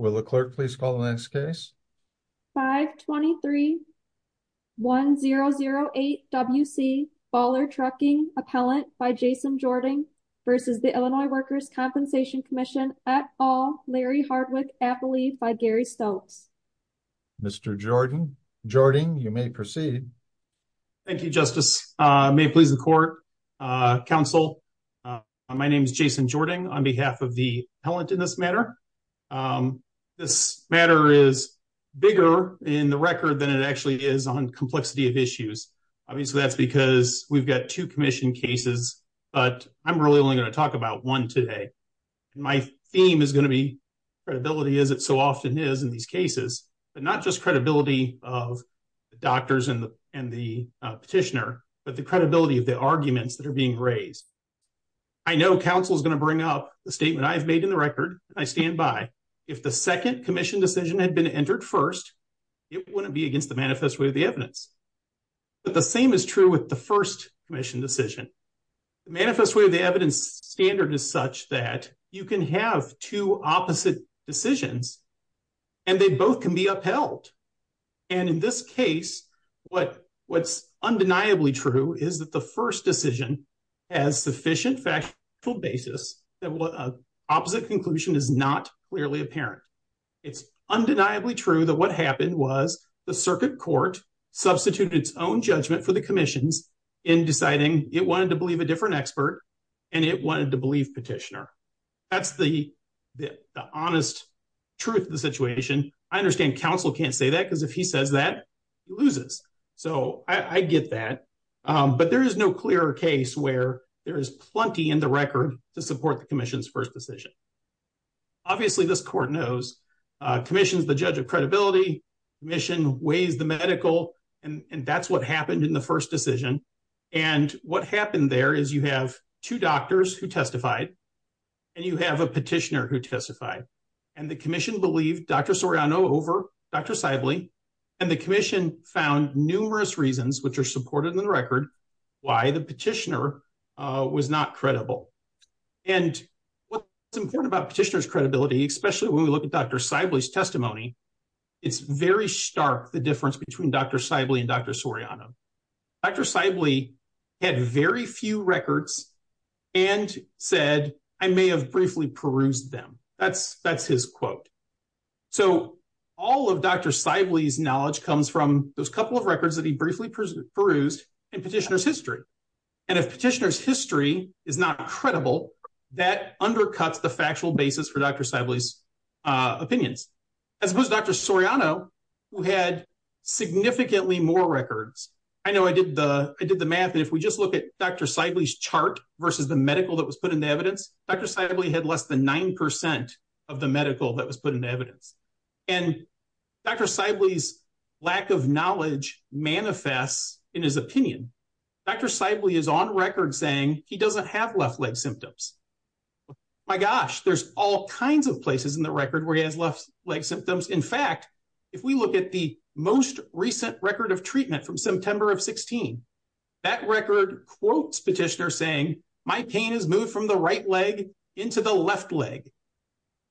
523-1008 W.C. Baller Trucking v. Illinois Workers' Compensation Comm'n Mr. Jording, you may proceed. Thank you, Justice. May it please the Court, Counsel, my name is Jason Jording on behalf of the appellant in this matter. This matter is bigger in the record than it actually is on complexity of issues. Obviously, that's because we've got two commission cases, but I'm really only going to talk about one today. My theme is going to be credibility, as it so often is in these cases, but not just credibility of the doctors and the petitioner, but the credibility of the arguments that are being raised. I know counsel is going to bring up the statement I've made in the record, and I stand by. If the second commission decision had been entered first, it wouldn't be against the manifest way of the evidence. But the same is true with the first commission decision. The manifest way of the evidence standard is such that you can have two opposite decisions, and they both can be upheld. And in this case, what's undeniably true is that the first decision has sufficient factual basis that an opposite conclusion is not clearly apparent. It's undeniably true that what happened was the circuit court substituted its own judgment for the commissions in deciding it wanted to believe a different expert, and it wanted to believe petitioner. That's the honest truth of the situation. I understand counsel can't say that, because if he says that, he loses. So I get that. But there is no clearer case where there is plenty in the record to support the commission's first decision. Obviously, this court knows commission is the judge of credibility, commission weighs the medical, and that's what happened in the first decision. And what happened there is you have two doctors who testified, and you have a petitioner who testified. And the commission believed Dr. Soriano over Dr. Seible, and the commission found numerous reasons, which are supported in the record, why the petitioner was not credible. And what's important about petitioner's credibility, especially when we look at Dr. Seible's testimony, it's very stark, the difference between Dr. Seible and Dr. Soriano. Dr. Seible had very few records and said, I may have briefly perused them. That's his quote. So all of Dr. Seible's knowledge comes from those couple of records that he briefly perused in petitioner's history. And if petitioner's history is not credible, that undercuts the factual basis for Dr. Seible's opinions. As opposed to Dr. Soriano, who had significantly more records. I know I did the math, and if we just look at Dr. Seible's chart versus the medical that was put into evidence, Dr. Seible had less than 9% of the medical that was put into evidence. And Dr. Seible's lack of knowledge manifests in his opinion. Dr. Seible is on record saying he doesn't have left leg symptoms. My gosh, there's all kinds of places in the record where he has left leg symptoms. In fact, if we look at the most recent record of treatment from September of 16, that record quotes petitioner saying, my pain has moved from the right leg into the left leg.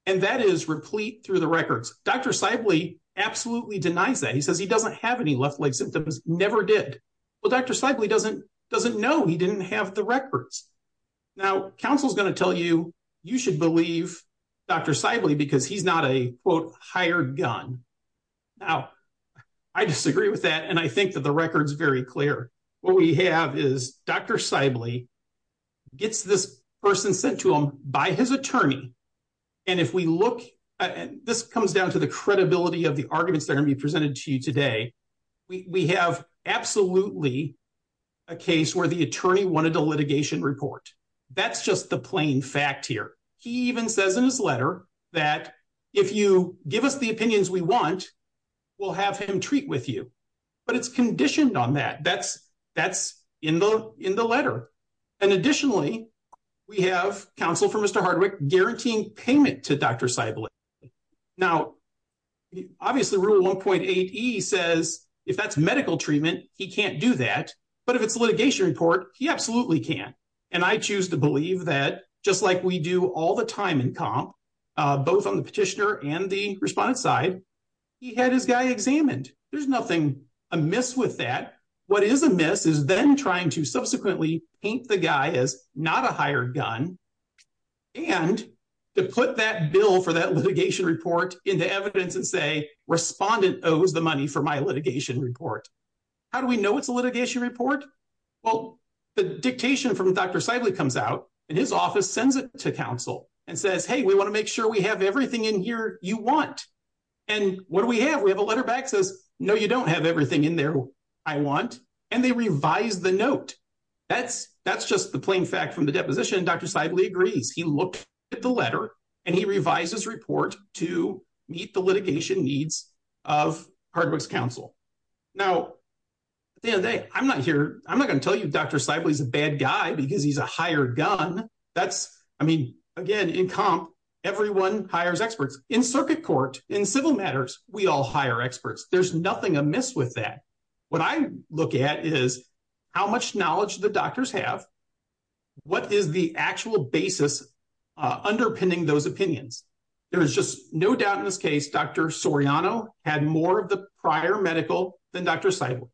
And that is replete through the records. Dr. Seible absolutely denies that. He says he doesn't have any left leg symptoms, never did. Well, Dr. Seible doesn't know he didn't have the records. Now, counsel is going to tell you, you should believe Dr. Seible because he's not a quote higher gun. Now, I disagree with that. And I think that the record is very clear. What we have is Dr. Seible gets this person sent to him by his attorney. And if we look, this comes down to the credibility of the arguments that are going to be presented to you today. We have absolutely a case where the attorney wanted a litigation report. That's just the plain fact here. He even says in his letter that if you give us the opinions we want, we'll have him treat with you. But it's conditioned on that. That's in the letter. And additionally, we have counsel for Mr. Hardwick guaranteeing payment to Dr. Seible. Now, obviously Rule 1.8E says if that's medical treatment, he can't do that. But if it's a litigation report, he absolutely can. And I choose to believe that just like we do all the time in comp, both on the petitioner and the respondent side, he had his guy examined. There's nothing amiss with that. What is amiss is then trying to subsequently paint the guy as not a hired gun and to put that bill for that litigation report into evidence and say respondent owes the money for my litigation report. How do we know it's a litigation report? Well, the dictation from Dr. Seible comes out and his office sends it to counsel and says, hey, we want to make sure we have everything in here you want. And what do we have? We have a letter back that says, no, you don't have everything in there I want. And they revise the note. That's just the plain fact from the deposition. Dr. Seible agrees. He looked at the letter and he revised his report to meet the litigation needs of Hardwick's counsel. Now, at the end of the day, I'm not going to tell you Dr. Seible is a bad guy because he's a hired gun. That's, I mean, again, in comp, everyone hires experts. In circuit court, in civil matters, we all hire experts. There's nothing amiss with that. What I look at is how much knowledge the doctors have, what is the actual basis underpinning those opinions? There is just no doubt in this case Dr. Soriano had more of the prior medical than Dr. Seible.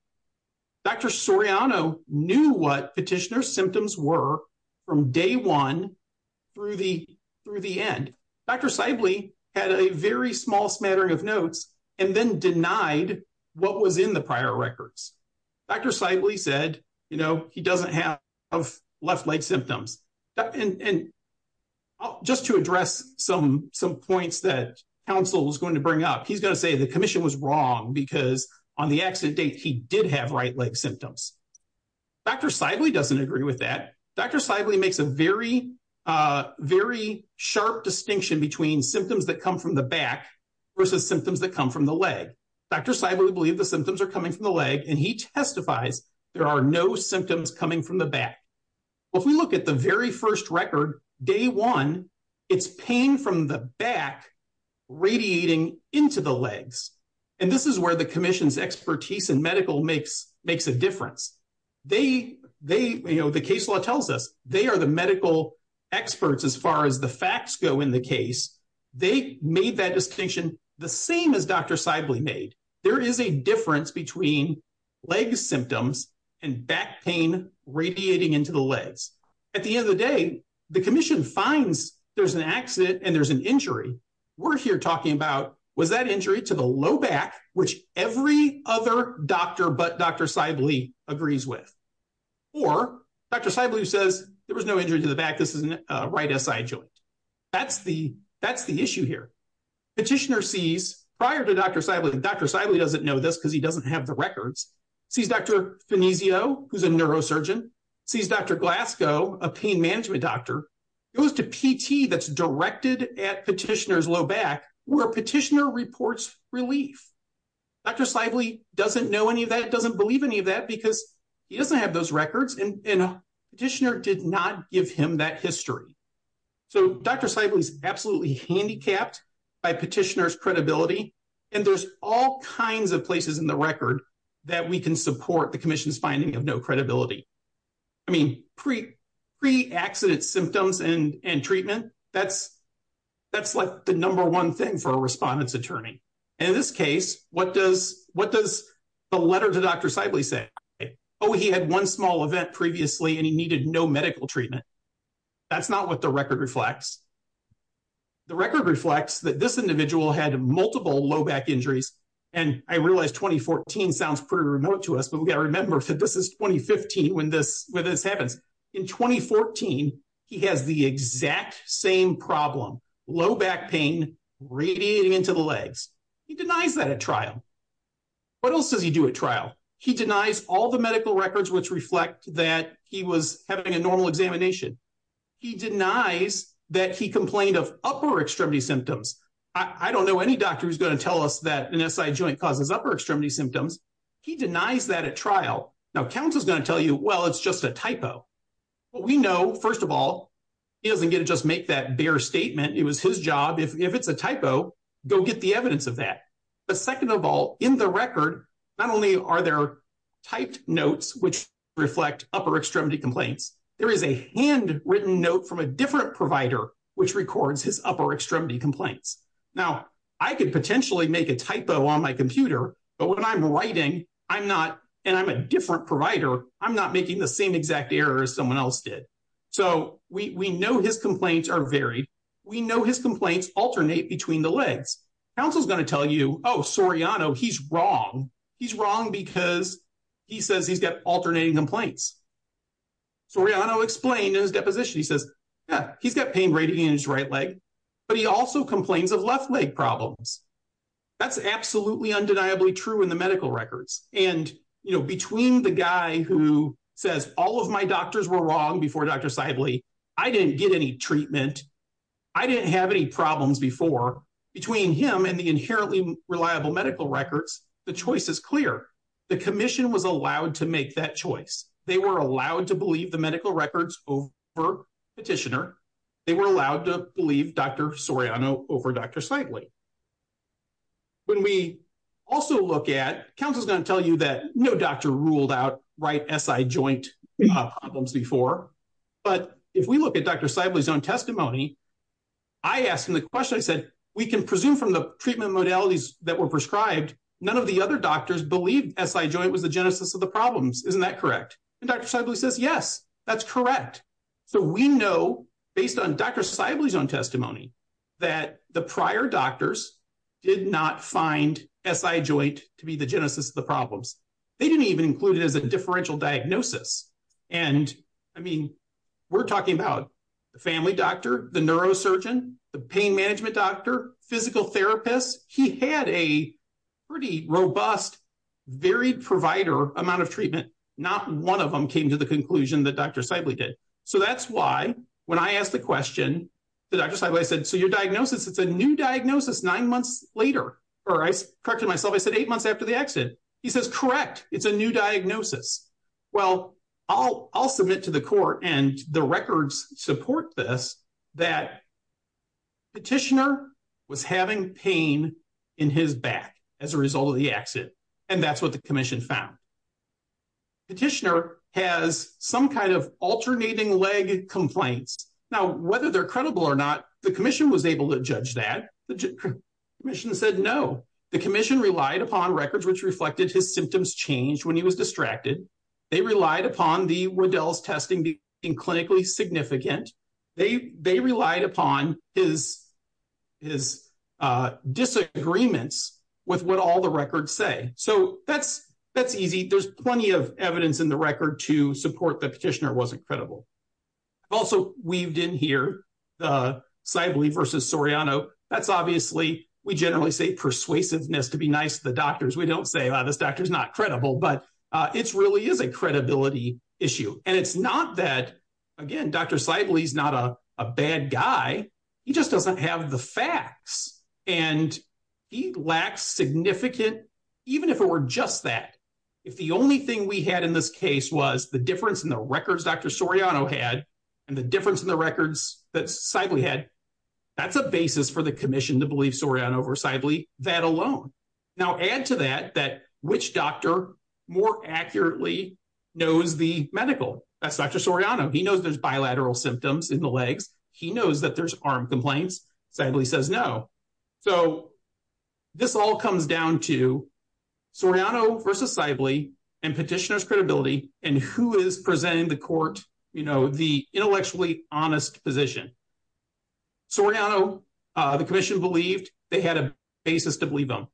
Dr. Soriano knew what petitioner's symptoms were from day one through the end. Dr. Seible had a very small smattering of notes and then denied what was in the prior records. Dr. Seible said, you know, he doesn't have left leg symptoms. And just to address some points that counsel was going to bring up, he's going to say the commission was wrong because on the accident date he did have right leg symptoms. Dr. Seible doesn't agree with that. Dr. Seible makes a very, very sharp distinction between symptoms that come from the back versus symptoms that come from the leg. Dr. Seible believed the symptoms are coming from the leg, and he testifies there are no symptoms coming from the back. If we look at the very first record, day one, it's pain from the back radiating into the legs. And this is where the commission's expertise in medical makes a difference. They, you know, the case law tells us they are the medical experts as far as the facts go in the case. They made that distinction the same as Dr. Seible made. There is a difference between leg symptoms and back pain radiating into the legs. At the end of the day, the commission finds there's an accident and there's an injury. We're here talking about was that injury to the low back, which every other doctor but Dr. Seible agrees with? Or Dr. Seible says there was no injury to the back. This is a right SI joint. That's the issue here. Petitioner sees prior to Dr. Seible, and Dr. Seible doesn't know this because he doesn't have the records, sees Dr. Finesio, who's a neurosurgeon, sees Dr. Glasgow, a pain management doctor, goes to PT that's directed at petitioner's low back where petitioner reports relief. Dr. Seible doesn't know any of that, doesn't believe any of that because he doesn't have those records, and a petitioner did not give him that history. So Dr. Seible is absolutely handicapped by petitioner's credibility, and there's all kinds of places in the record that we can support the commission's finding of no credibility. I mean, pre-accident symptoms and treatment, that's like the number one thing for a respondent's attorney. And in this case, what does the letter to Dr. Seible say? Oh, he had one small event previously, and he needed no medical treatment. That's not what the record reflects. The record reflects that this individual had multiple low back injuries, and I realize 2014 sounds pretty remote to us, but we've got to remember that this is 2015 when this happens. In 2014, he has the exact same problem, low back pain radiating into the legs. He denies that at trial. What else does he do at trial? He denies all the medical records which reflect that he was having a normal examination. He denies that he complained of upper extremity symptoms. I don't know any doctor who's going to tell us that an SI joint causes upper extremity symptoms. He denies that at trial. Now, counsel's going to tell you, well, it's just a typo. Well, we know, first of all, he doesn't get to just make that bare statement. It was his job. If it's a typo, go get the evidence of that. But second of all, in the record, not only are there typed notes which reflect upper extremity complaints, there is a handwritten note from a different provider which records his upper extremity complaints. Now, I could potentially make a typo on my computer, but when I'm writing and I'm a different provider, I'm not making the same exact error as someone else did. So we know his complaints are varied. We know his complaints alternate between the legs. Counsel's going to tell you, oh, Soriano, he's wrong. He's wrong because he says he's got alternating complaints. Soriano explained in his deposition, he says, yeah, he's got pain right here in his right leg, but he also complains of left leg problems. That's absolutely undeniably true in the medical records. And, you know, between the guy who says all of my doctors were wrong before Dr. Seible, I didn't get any treatment, I didn't have any problems before, between him and the inherently reliable medical records, the choice is clear. The commission was allowed to make that choice. They were allowed to believe the medical records over Petitioner. They were allowed to believe Dr. Soriano over Dr. Seible. When we also look at, counsel's going to tell you that no doctor ruled out right SI joint problems before, but if we look at Dr. Seible's own testimony, I asked him the question, I said, we can presume from the treatment modalities that were prescribed, none of the other doctors believed SI joint was the genesis of the problems. Isn't that correct? And Dr. Seible says, yes, that's correct. So we know, based on Dr. Seible's own testimony, that the prior doctors did not find SI joint to be the genesis of the problems. They didn't even include it as a differential diagnosis. And, I mean, we're talking about the family doctor, the neurosurgeon, the pain management doctor, physical therapist. He had a pretty robust, varied provider amount of treatment. Not one of them came to the conclusion that Dr. Seible did. So that's why, when I asked the question, Dr. Seible said, so your diagnosis, it's a new diagnosis nine months later. Or I corrected myself, I said eight months after the accident. He says, correct, it's a new diagnosis. Well, I'll submit to the court, and the records support this, that Petitioner was having pain in his back as a result of the accident. And that's what the commission found. Petitioner has some kind of alternating leg complaints. Now, whether they're credible or not, the commission was able to judge that. The commission said no. The commission relied upon records which reflected his symptoms changed when he was distracted. They relied upon the Waddell's testing being clinically significant. They relied upon his disagreements with what all the records say. So that's easy. There's plenty of evidence in the record to support that Petitioner wasn't credible. I've also weaved in here the Seible versus Soriano. That's obviously, we generally say persuasiveness to be nice to the doctors. We don't say, well, this doctor's not credible. But it really is a credibility issue. And it's not that, again, Dr. Seible's not a bad guy. He just doesn't have the facts. And he lacks significant, even if it were just that. If the only thing we had in this case was the difference in the records Dr. Soriano had and the difference in the records that Seible had, that's a basis for the commission to believe Soriano over Seible that alone. Now, add to that that which doctor more accurately knows the medical. That's Dr. Soriano. He knows there's bilateral symptoms in the legs. He knows that there's arm complaints. Seible says no. So this all comes down to Soriano versus Seible and Petitioner's credibility and who is presenting the court the intellectually honest position. Soriano, the commission believed they had a basis to believe him.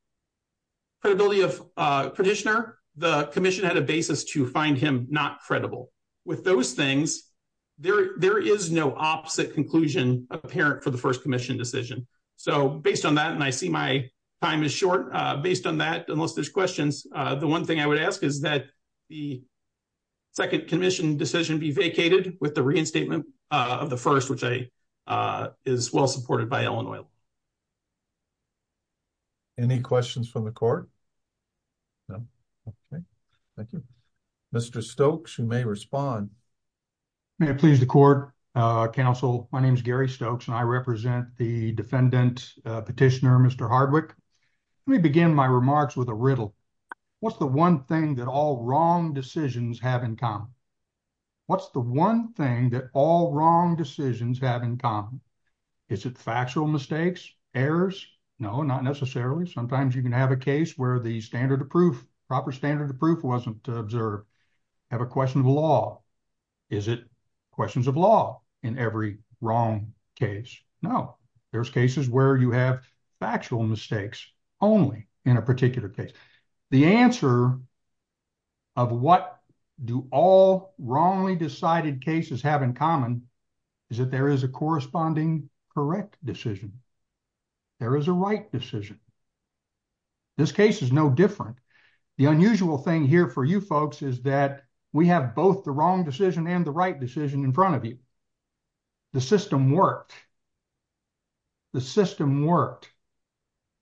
Credibility of Petitioner, the commission had a basis to find him not credible. With those things, there is no opposite conclusion apparent for the first commission decision. So based on that, and I see my time is short, based on that, unless there's questions, the one thing I would ask is that the second commission decision be vacated with the reinstatement of the first, which is well supported by Illinois. Okay. Thank you. Mr. Stokes, you may respond. May it please the court, counsel. My name is Gary Stokes and I represent the defendant, Petitioner Mr. Hardwick. Let me begin my remarks with a riddle. What's the one thing that all wrong decisions have in common? What's the one thing that all wrong decisions have in common? Is it factual mistakes? Errors? No, not necessarily. Sometimes you can have a case where the standard of proof, proper standard of proof wasn't observed. Have a question of law. Is it questions of law in every wrong case? No. There's cases where you have factual mistakes only in a particular case. The answer of what do all wrongly decided cases have in common is that there is a corresponding correct decision. There is a right decision. This case is no different. The unusual thing here for you folks is that we have both the wrong decision and the right decision in front of you. The system worked. The system worked.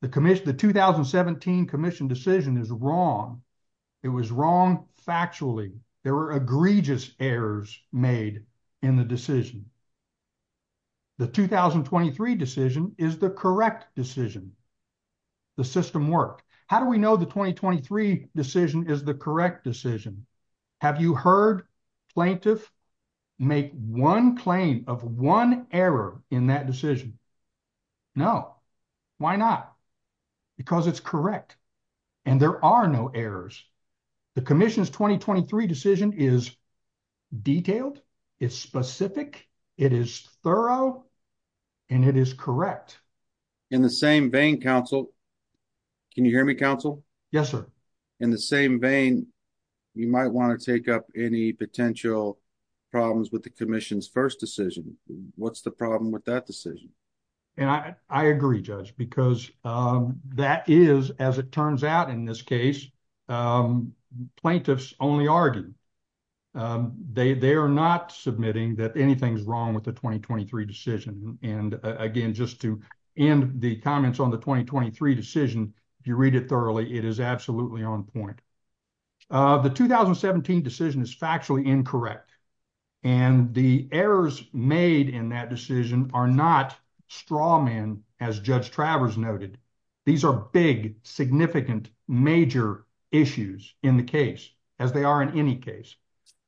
The 2017 commission decision is wrong. It was wrong factually. There were egregious errors made in the decision. The 2023 decision is the correct decision. The system worked. How do we know the 2023 decision is the correct decision? Have you heard plaintiff make one claim of one error in that decision? No. Why not? Because it's correct. And there are no errors. The commission's 2023 decision is detailed. It's specific. It is thorough. And it is correct. In the same vein, counsel, can you hear me, counsel? Yes, sir. In the same vein, you might want to take up any potential problems with the commission's first decision. What's the problem with that decision? And I agree, judge, because that is, as it turns out in this case, plaintiffs only argue. They are not submitting that anything's wrong with the 2023 decision. And, again, just to end the comments on the 2023 decision, if you read it thoroughly, it is absolutely on point. The 2017 decision is factually incorrect. And the errors made in that decision are not straw men, as Judge Travers noted. These are big, significant, major issues in the case, as they are in any case.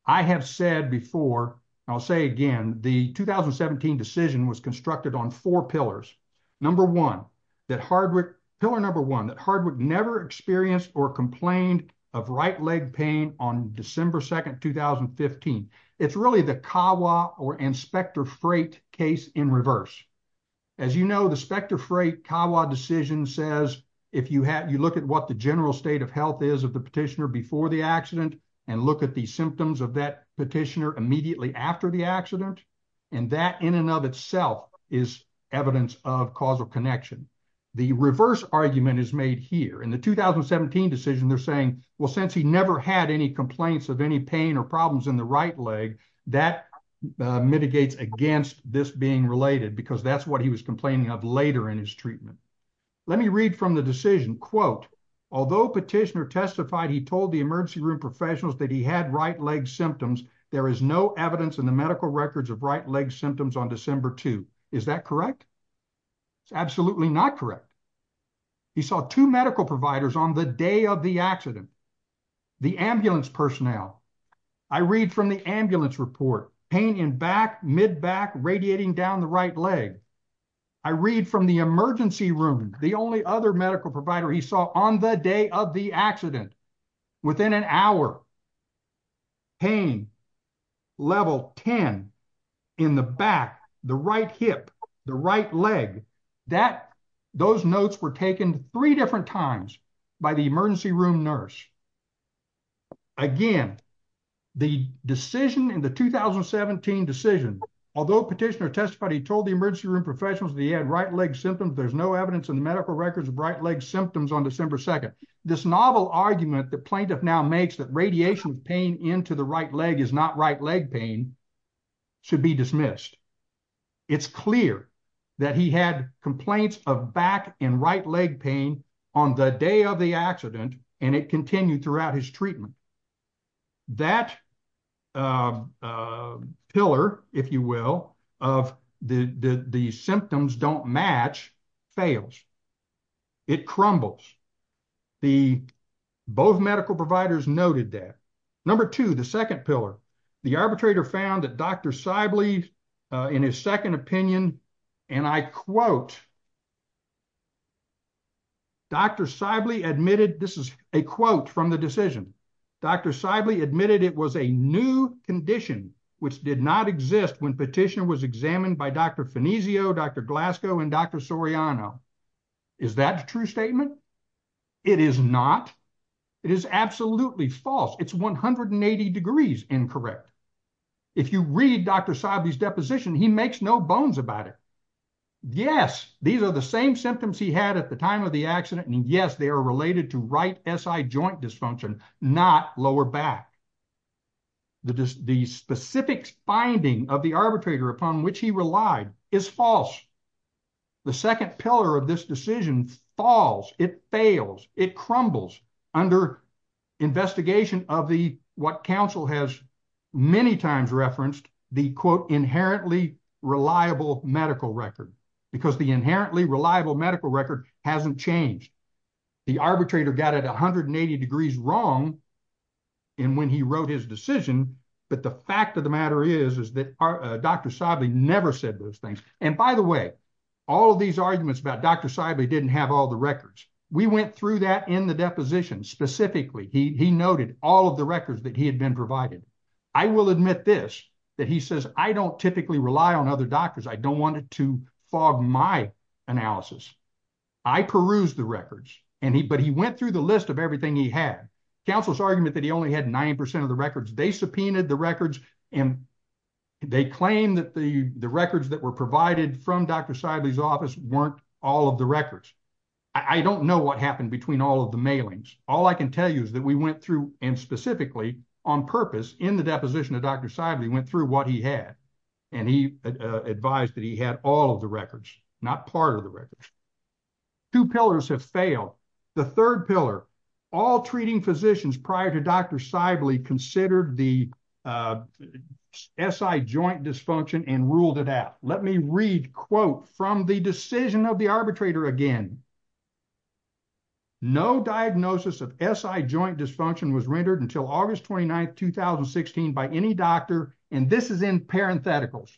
I have said before, and I'll say again, the 2017 decision was constructed on four pillars. Number one, that Hardwick, pillar number one, that Hardwick never experienced or complained of right leg pain on December 2nd, 2015. It's really the CAWA or Inspector Freight case in reverse. As you know, the Inspector Freight CAWA decision says, if you look at what the general state of health is of the petitioner before the accident, and look at the symptoms of that petitioner immediately after the accident, and that in and of itself is evidence of causal connection. The reverse argument is made here. In the 2017 decision, they're saying, well, since he never had any complaints of any pain or problems in the right leg, that mitigates against this being related, because that's what he was complaining of later in his treatment. Let me read from the decision. Quote, although petitioner testified he told the emergency room professionals that he had right leg symptoms, there is no evidence in the medical records of right leg symptoms on December 2. Is that correct? It's absolutely not correct. He saw two medical providers on the day of the accident, the ambulance personnel. I read from the ambulance report, pain in back, mid back, radiating down the right leg. I read from the emergency room, the only other medical provider he saw on the day of the accident, within an hour. Pain, level 10, in the back, the right hip, the right leg. Those notes were taken three different times by the emergency room nurse. Again, the decision in the 2017 decision, although petitioner testified he told the emergency room professionals that he had right leg symptoms, there's no evidence in the medical records of right leg symptoms on December 2. This novel argument the plaintiff now makes that radiation pain into the right leg is not right leg pain should be dismissed. It's clear that he had complaints of back and right leg pain on the day of the accident and it continued throughout his treatment. That pillar, if you will, of the symptoms don't match, fails. It crumbles. Both medical providers noted that. Number two, the second pillar. The arbitrator found that Dr. Sibley, in his second opinion, and I quote, Dr. Sibley admitted, this is a quote from the decision. Dr. Sibley admitted it was a new condition which did not exist when petitioner was examined by Dr. Fanesio, Dr. Glasgow, and Dr. Soriano. Is that a true statement? It is not. It is absolutely false. It's 180 degrees incorrect. If you read Dr. Sibley's deposition, he makes no bones about it. Yes, these are the same symptoms he had at the time of the accident and yes, they are related to right SI joint dysfunction, not lower back. The specific finding of the arbitrator upon which he relied is false. The second pillar of this decision falls. It fails. It crumbles. Under investigation of what counsel has many times referenced, the quote inherently reliable medical record. Because the inherently reliable medical record hasn't changed. The arbitrator got it 180 degrees wrong when he wrote his decision, but the fact of the matter is that Dr. Sibley never said those things. And by the way, all of these arguments about Dr. Sibley didn't have all the records. We went through that in the deposition specifically. He noted all of the records that he had been provided. I will admit this, that he says I don't typically rely on other doctors. I don't want to fog my analysis. I peruse the records, but he went through the list of everything he had. Counsel's argument that he only had 90% of the records. They subpoenaed the records and they claimed that the records that were provided from Dr. Sibley's office weren't all of the records. I don't know what happened between all of the mailings. All I can tell you is that we went through and specifically on purpose in the deposition of Dr. Sibley went through what he had. And he advised that he had all of the records, not part of the records. Two pillars have failed. The third pillar, all treating physicians prior to Dr. Sibley considered the SI joint dysfunction and ruled it out. Let me read, quote, from the decision of the arbitrator again. No diagnosis of SI joint dysfunction was rendered until August 29, 2016 by any doctor. And this is in parentheticals.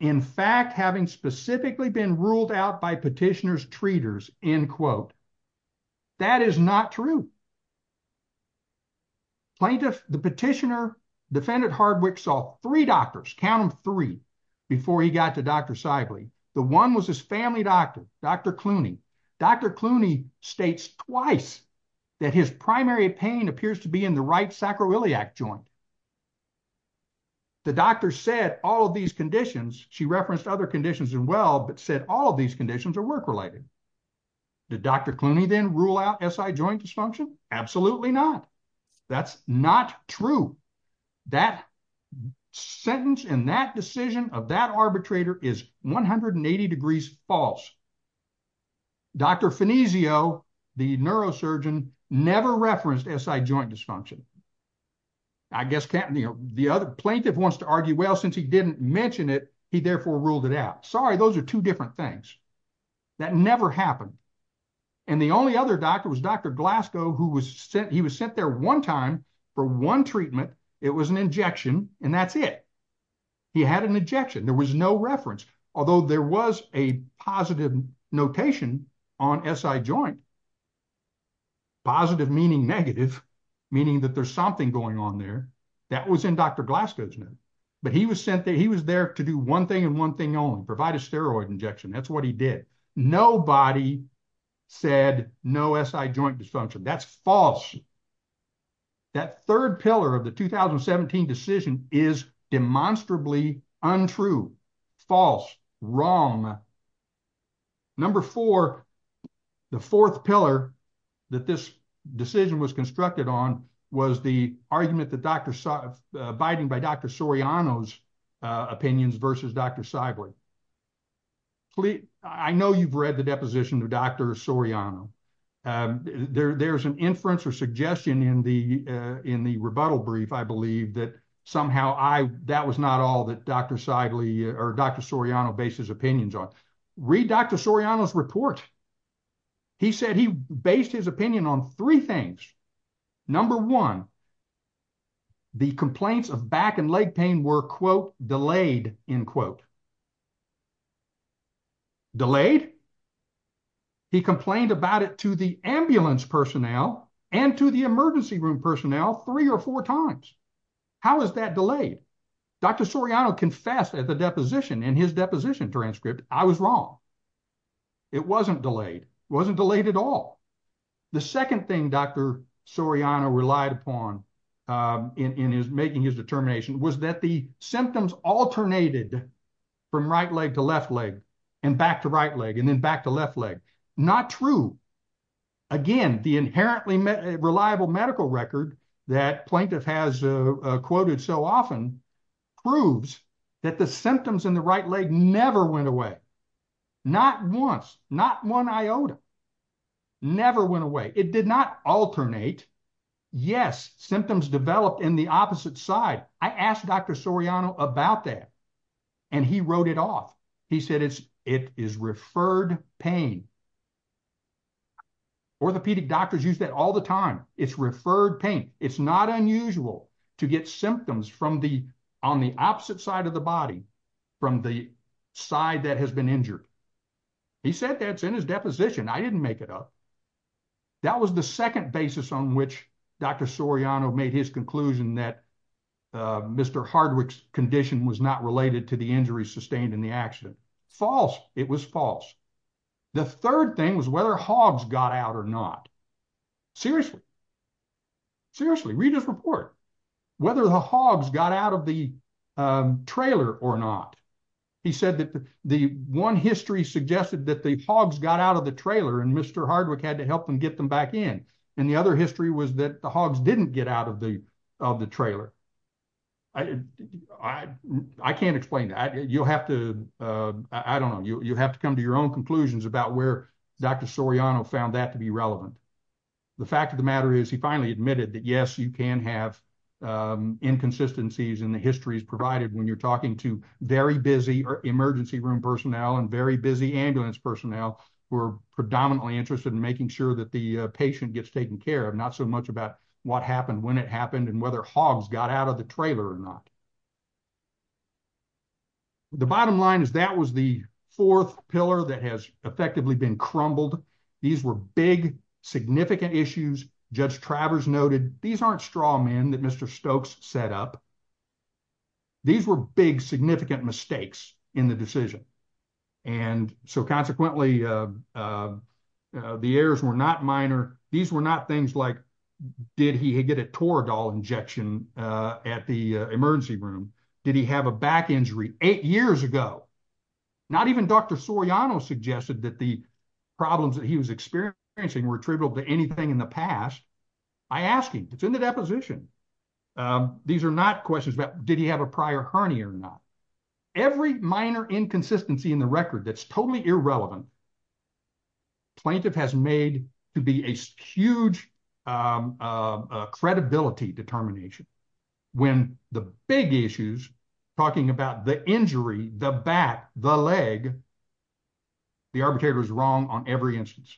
In fact, having specifically been ruled out by petitioner's treaters, end quote. That is not true. Plaintiff, the petitioner, defendant Hardwick saw three doctors, count them three, before he got to Dr. Sibley. The one was his family doctor, Dr. Clooney. Dr. Clooney states twice that his primary pain appears to be in the right sacroiliac joint. The doctor said all of these conditions, she referenced other conditions as well, but said all of these conditions are work-related. Did Dr. Clooney then rule out SI joint dysfunction? Absolutely not. That's not true. That sentence and that decision of that arbitrator is 180 degrees false. Dr. Finesio, the neurosurgeon, never referenced SI joint dysfunction. I guess the plaintiff wants to argue, well, since he didn't mention it, he therefore ruled it out. Sorry, those are two different things. That never happened. And the only other doctor was Dr. Glasgow, who was sent there one time for one treatment. It was an injection, and that's it. He had an injection. There was no reference, although there was a positive notation on SI joint. Positive meaning negative, meaning that there's something going on there. That was in Dr. Glasgow's notes. But he was sent there. He was there to do one thing and one thing only, provide a steroid injection. That's what he did. Nobody said no SI joint dysfunction. That's false. That third pillar of the 2017 decision is demonstrably untrue, false, wrong. Number four, the fourth pillar that this decision was constructed on was the argument that Dr. Soriano's opinions versus Dr. Seidley. I know you've read the deposition of Dr. Soriano. There's an inference or suggestion in the rebuttal brief, I believe, that somehow that was not all that Dr. Seidley or Dr. Soriano based his opinions on. Read Dr. Soriano's report. He said he based his opinion on three things. Number one, the complaints of back and leg pain were, quote, delayed, end quote. Delayed? He complained about it to the ambulance personnel and to the emergency room personnel three or four times. How is that delayed? Dr. Soriano confessed at the deposition in his deposition transcript, I was wrong. It wasn't delayed. It wasn't delayed at all. The second thing Dr. Soriano relied upon in making his determination was that the symptoms alternated from right leg to left leg and back to right leg and then back to left leg. Not true. Again, the inherently reliable medical record that plaintiff has quoted so often proves that the symptoms in the right leg never went away. Not once. Not one iota. Never went away. It did not alternate. Yes, symptoms developed in the opposite side. I asked Dr. Soriano about that. And he wrote it off. He said it is referred pain. Orthopedic doctors use that all the time. It's referred pain. It's not unusual to get symptoms on the opposite side of the body from the side that has been injured. He said that's in his deposition. I didn't make it up. That was the second basis on which Dr. Soriano made his conclusion that Mr. Hardwick's condition was not related to the injury sustained in the accident. False. It was false. The third thing was whether hogs got out or not. Seriously. Seriously. Read his report. Whether the hogs got out of the trailer or not. He said that the one history suggested that the hogs got out of the trailer and Mr. Hardwick had to help him get them back in. And the other history was that the hogs didn't get out of the trailer. I can't explain that. You'll have to, I don't know, you'll have to come to your own conclusions about where Dr. Soriano found that to be relevant. The fact of the matter is he finally admitted that, yes, you can have inconsistencies in the histories provided when you're talking to very busy emergency room personnel and very busy ambulance personnel who are predominantly interested in making sure that the patient gets taken care of. Not so much about what happened, when it happened, and whether hogs got out of the trailer or not. The bottom line is that was the fourth pillar that has effectively been crumbled. These were big, significant issues. Judge Travers noted, these aren't straw men that Mr. Stokes set up. These were big significant mistakes in the decision. And so consequently, the errors were not minor. These were not things like, did he get a Toradol injection at the emergency room? Did he have a back injury eight years ago? Not even Dr. Soriano suggested that the problems that he was experiencing were attributable to anything in the past. I ask him, it's in the deposition. These are not questions about did he have a prior hernia or not. Every minor inconsistency in the record that's totally irrelevant, plaintiff has made to be a huge credibility determination. When the big issues, talking about the injury, the back, the leg, the arbitrator is wrong on every instance.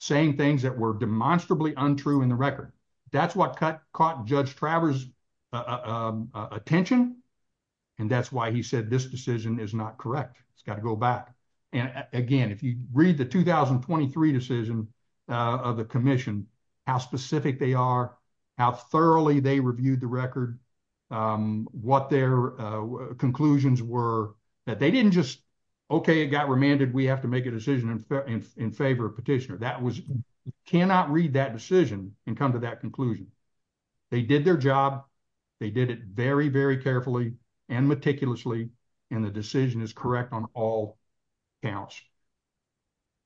Saying things that were demonstrably untrue in the record. That's what caught Judge Travers' attention, and that's why he said this decision is not correct. It's got to go back. And again, if you read the 2023 decision of the commission, how specific they are, how thoroughly they reviewed the record, what their conclusions were, that they didn't just, okay, it got remanded, we have to make a decision in favor of petitioner. That was, you cannot read that decision and come to that conclusion. They did their job. They did it very, very carefully and meticulously, and the decision is correct on all counts.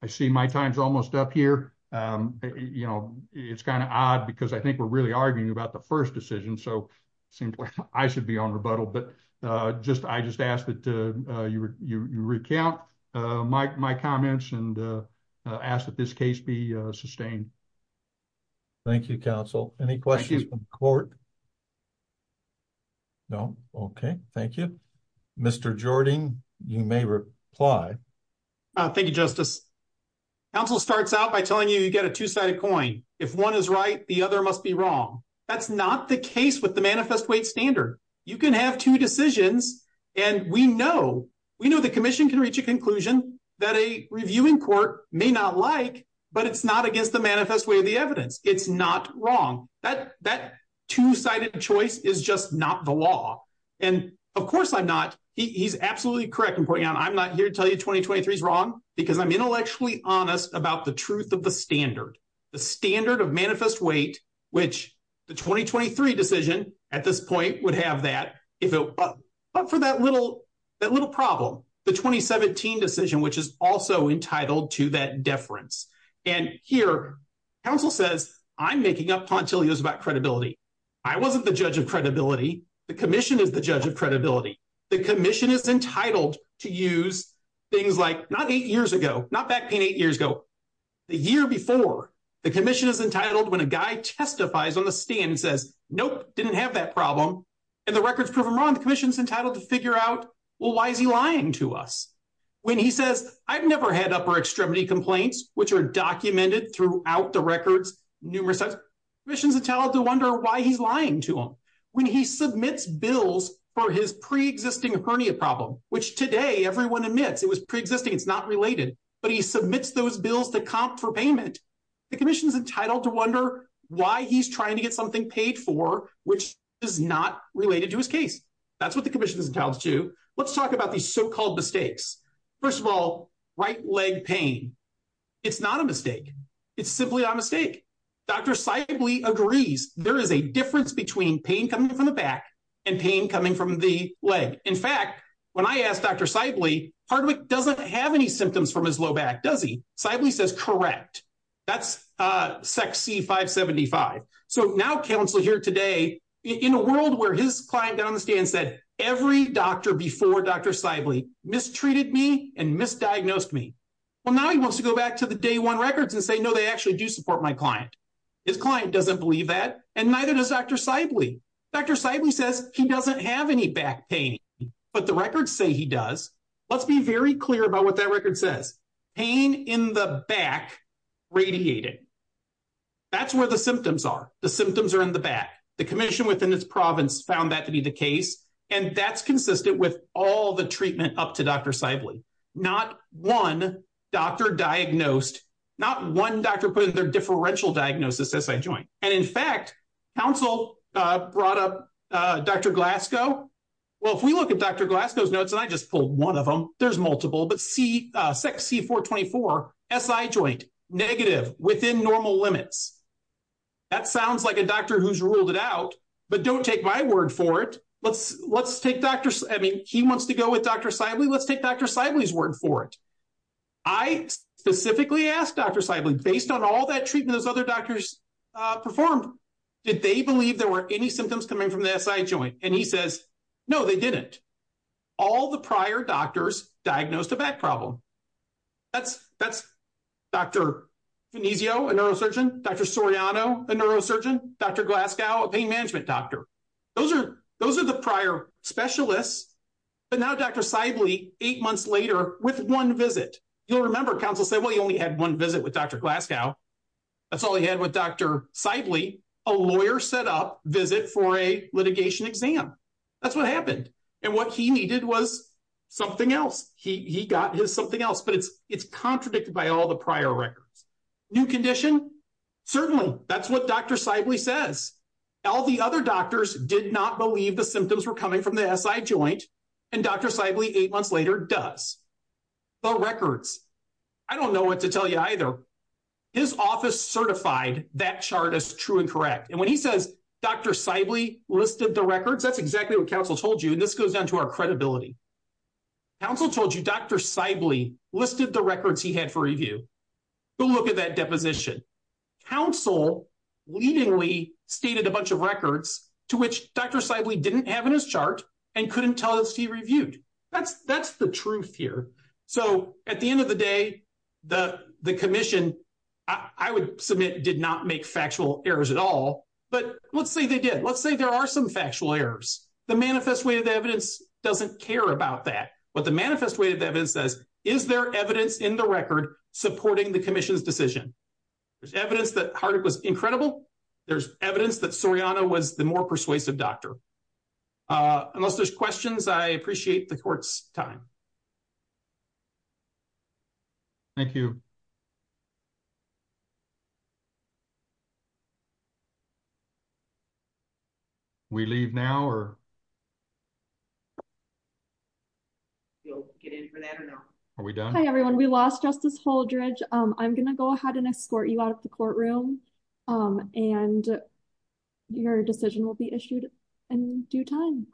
I see my time's almost up here. It's kind of odd because I think we're really arguing about the first decision, so it seems like I should be on rebuttal, but I just ask that you recount my comments and ask that this case be sustained. Thank you, counsel. Any questions from the court? No? Okay, thank you. Thank you, Justice. Counsel starts out by telling you you get a two-sided coin. If one is right, the other must be wrong. That's not the case with the manifest weight standard. You can have two decisions, and we know the commission can reach a conclusion that a reviewing court may not like, but it's not against the manifest weight of the evidence. It's not wrong. That two-sided choice is just not the law, and of course I'm not. He's absolutely correct in pointing out I'm not here to tell you 2023 is wrong because I'm intellectually honest about the truth of the standard, the standard of manifest weight, which the 2023 decision at this point would have that, but for that little problem, the 2017 decision, which is also entitled to that deference. And here, counsel says I'm making up tauntillos about credibility. I wasn't the judge of credibility. The commission is the judge of credibility. The commission is entitled to use things like not eight years ago, not back pain eight years ago, the year before, the commission is entitled when a guy testifies on the stand and says, nope, didn't have that problem, and the records prove him wrong, the commission is entitled to figure out, well, why is he lying to us? When he says I've never had upper extremity complaints, which are documented throughout the records numerous times, the commission is entitled to wonder why he's lying to them. When he submits bills for his preexisting hernia problem, which today everyone admits it was preexisting, it's not related, but he submits those bills to comp for payment, the commission is entitled to wonder why he's trying to get something paid for, which is not related to his case. That's what the commission is entitled to. Let's talk about these so-called mistakes. First of all, right leg pain. It's not a mistake. It's simply a mistake. Dr. Sibley agrees there is a difference between pain coming from the back and pain coming from the leg. In fact, when I asked Dr. Sibley, Hardwick doesn't have any symptoms from his low back, does he? Sibley says correct. That's SECC 575. So now counsel here today, in a world where his client got on the stand and said every doctor before Dr. Sibley mistreated me and misdiagnosed me, well, now he wants to go back to the day one records and say, no, they actually do support my client. His client doesn't believe that, and neither does Dr. Sibley. Dr. Sibley says he doesn't have any back pain, but the records say he does. Let's be very clear about what that record says. Pain in the back radiated. That's where the symptoms are. The symptoms are in the back. The commission within its province found that to be the case, and that's consistent with all the treatment up to Dr. Sibley. Not one doctor diagnosed, not one doctor put in their differential diagnosis SI joint. And, in fact, counsel brought up Dr. Glasgow. Well, if we look at Dr. Glasgow's notes, and I just pulled one of them, there's multiple, but SECC 424, SI joint, negative, within normal limits. That sounds like a doctor who's ruled it out, but don't take my word for it. Let's take Dr. ‑‑ I mean, he wants to go with Dr. Sibley. Let's take Dr. Sibley's word for it. I specifically asked Dr. Sibley, based on all that treatment those other doctors performed, did they believe there were any symptoms coming from the SI joint? And he says, no, they didn't. All the prior doctors diagnosed a back problem. That's Dr. Venizio, a neurosurgeon, Dr. Soriano, a neurosurgeon, Dr. Glasgow, a pain management doctor. Those are the prior specialists. But now Dr. Sibley, eight months later, with one visit. You'll remember, counsel said, well, he only had one visit with Dr. Glasgow. That's all he had with Dr. Sibley, a lawyer set up visit for a litigation exam. That's what happened. And what he needed was something else. He got his something else. But it's contradicted by all the prior records. New condition? Certainly. That's what Dr. Sibley says. All the other doctors did not believe the symptoms were coming from the SI joint. And Dr. Sibley, eight months later, does. The records. I don't know what to tell you either. His office certified that chart as true and correct. And when he says Dr. Sibley listed the records, that's exactly what counsel told you. And this goes down to our credibility. Counsel told you Dr. Sibley listed the records he had for review. Go look at that deposition. Counsel leadingly stated a bunch of records to which Dr. Sibley didn't have in his chart and couldn't tell us he reviewed. That's the truth here. So at the end of the day, the commission, I would submit, did not make factual errors at all. But let's say they did. Let's say there are some factual errors. The manifest way of the evidence doesn't care about that. But the manifest way of the evidence says, is there evidence in the record supporting the commission's decision? There's evidence that Hardick was incredible. There's evidence that Soriano was the more persuasive doctor. Unless there's questions, I appreciate the court's time. Thank you. We leave now? Are we done? Hi, everyone, we lost Justice Holdridge. I'm going to go ahead and escort you out of the courtroom. And your decision will be issued in due time.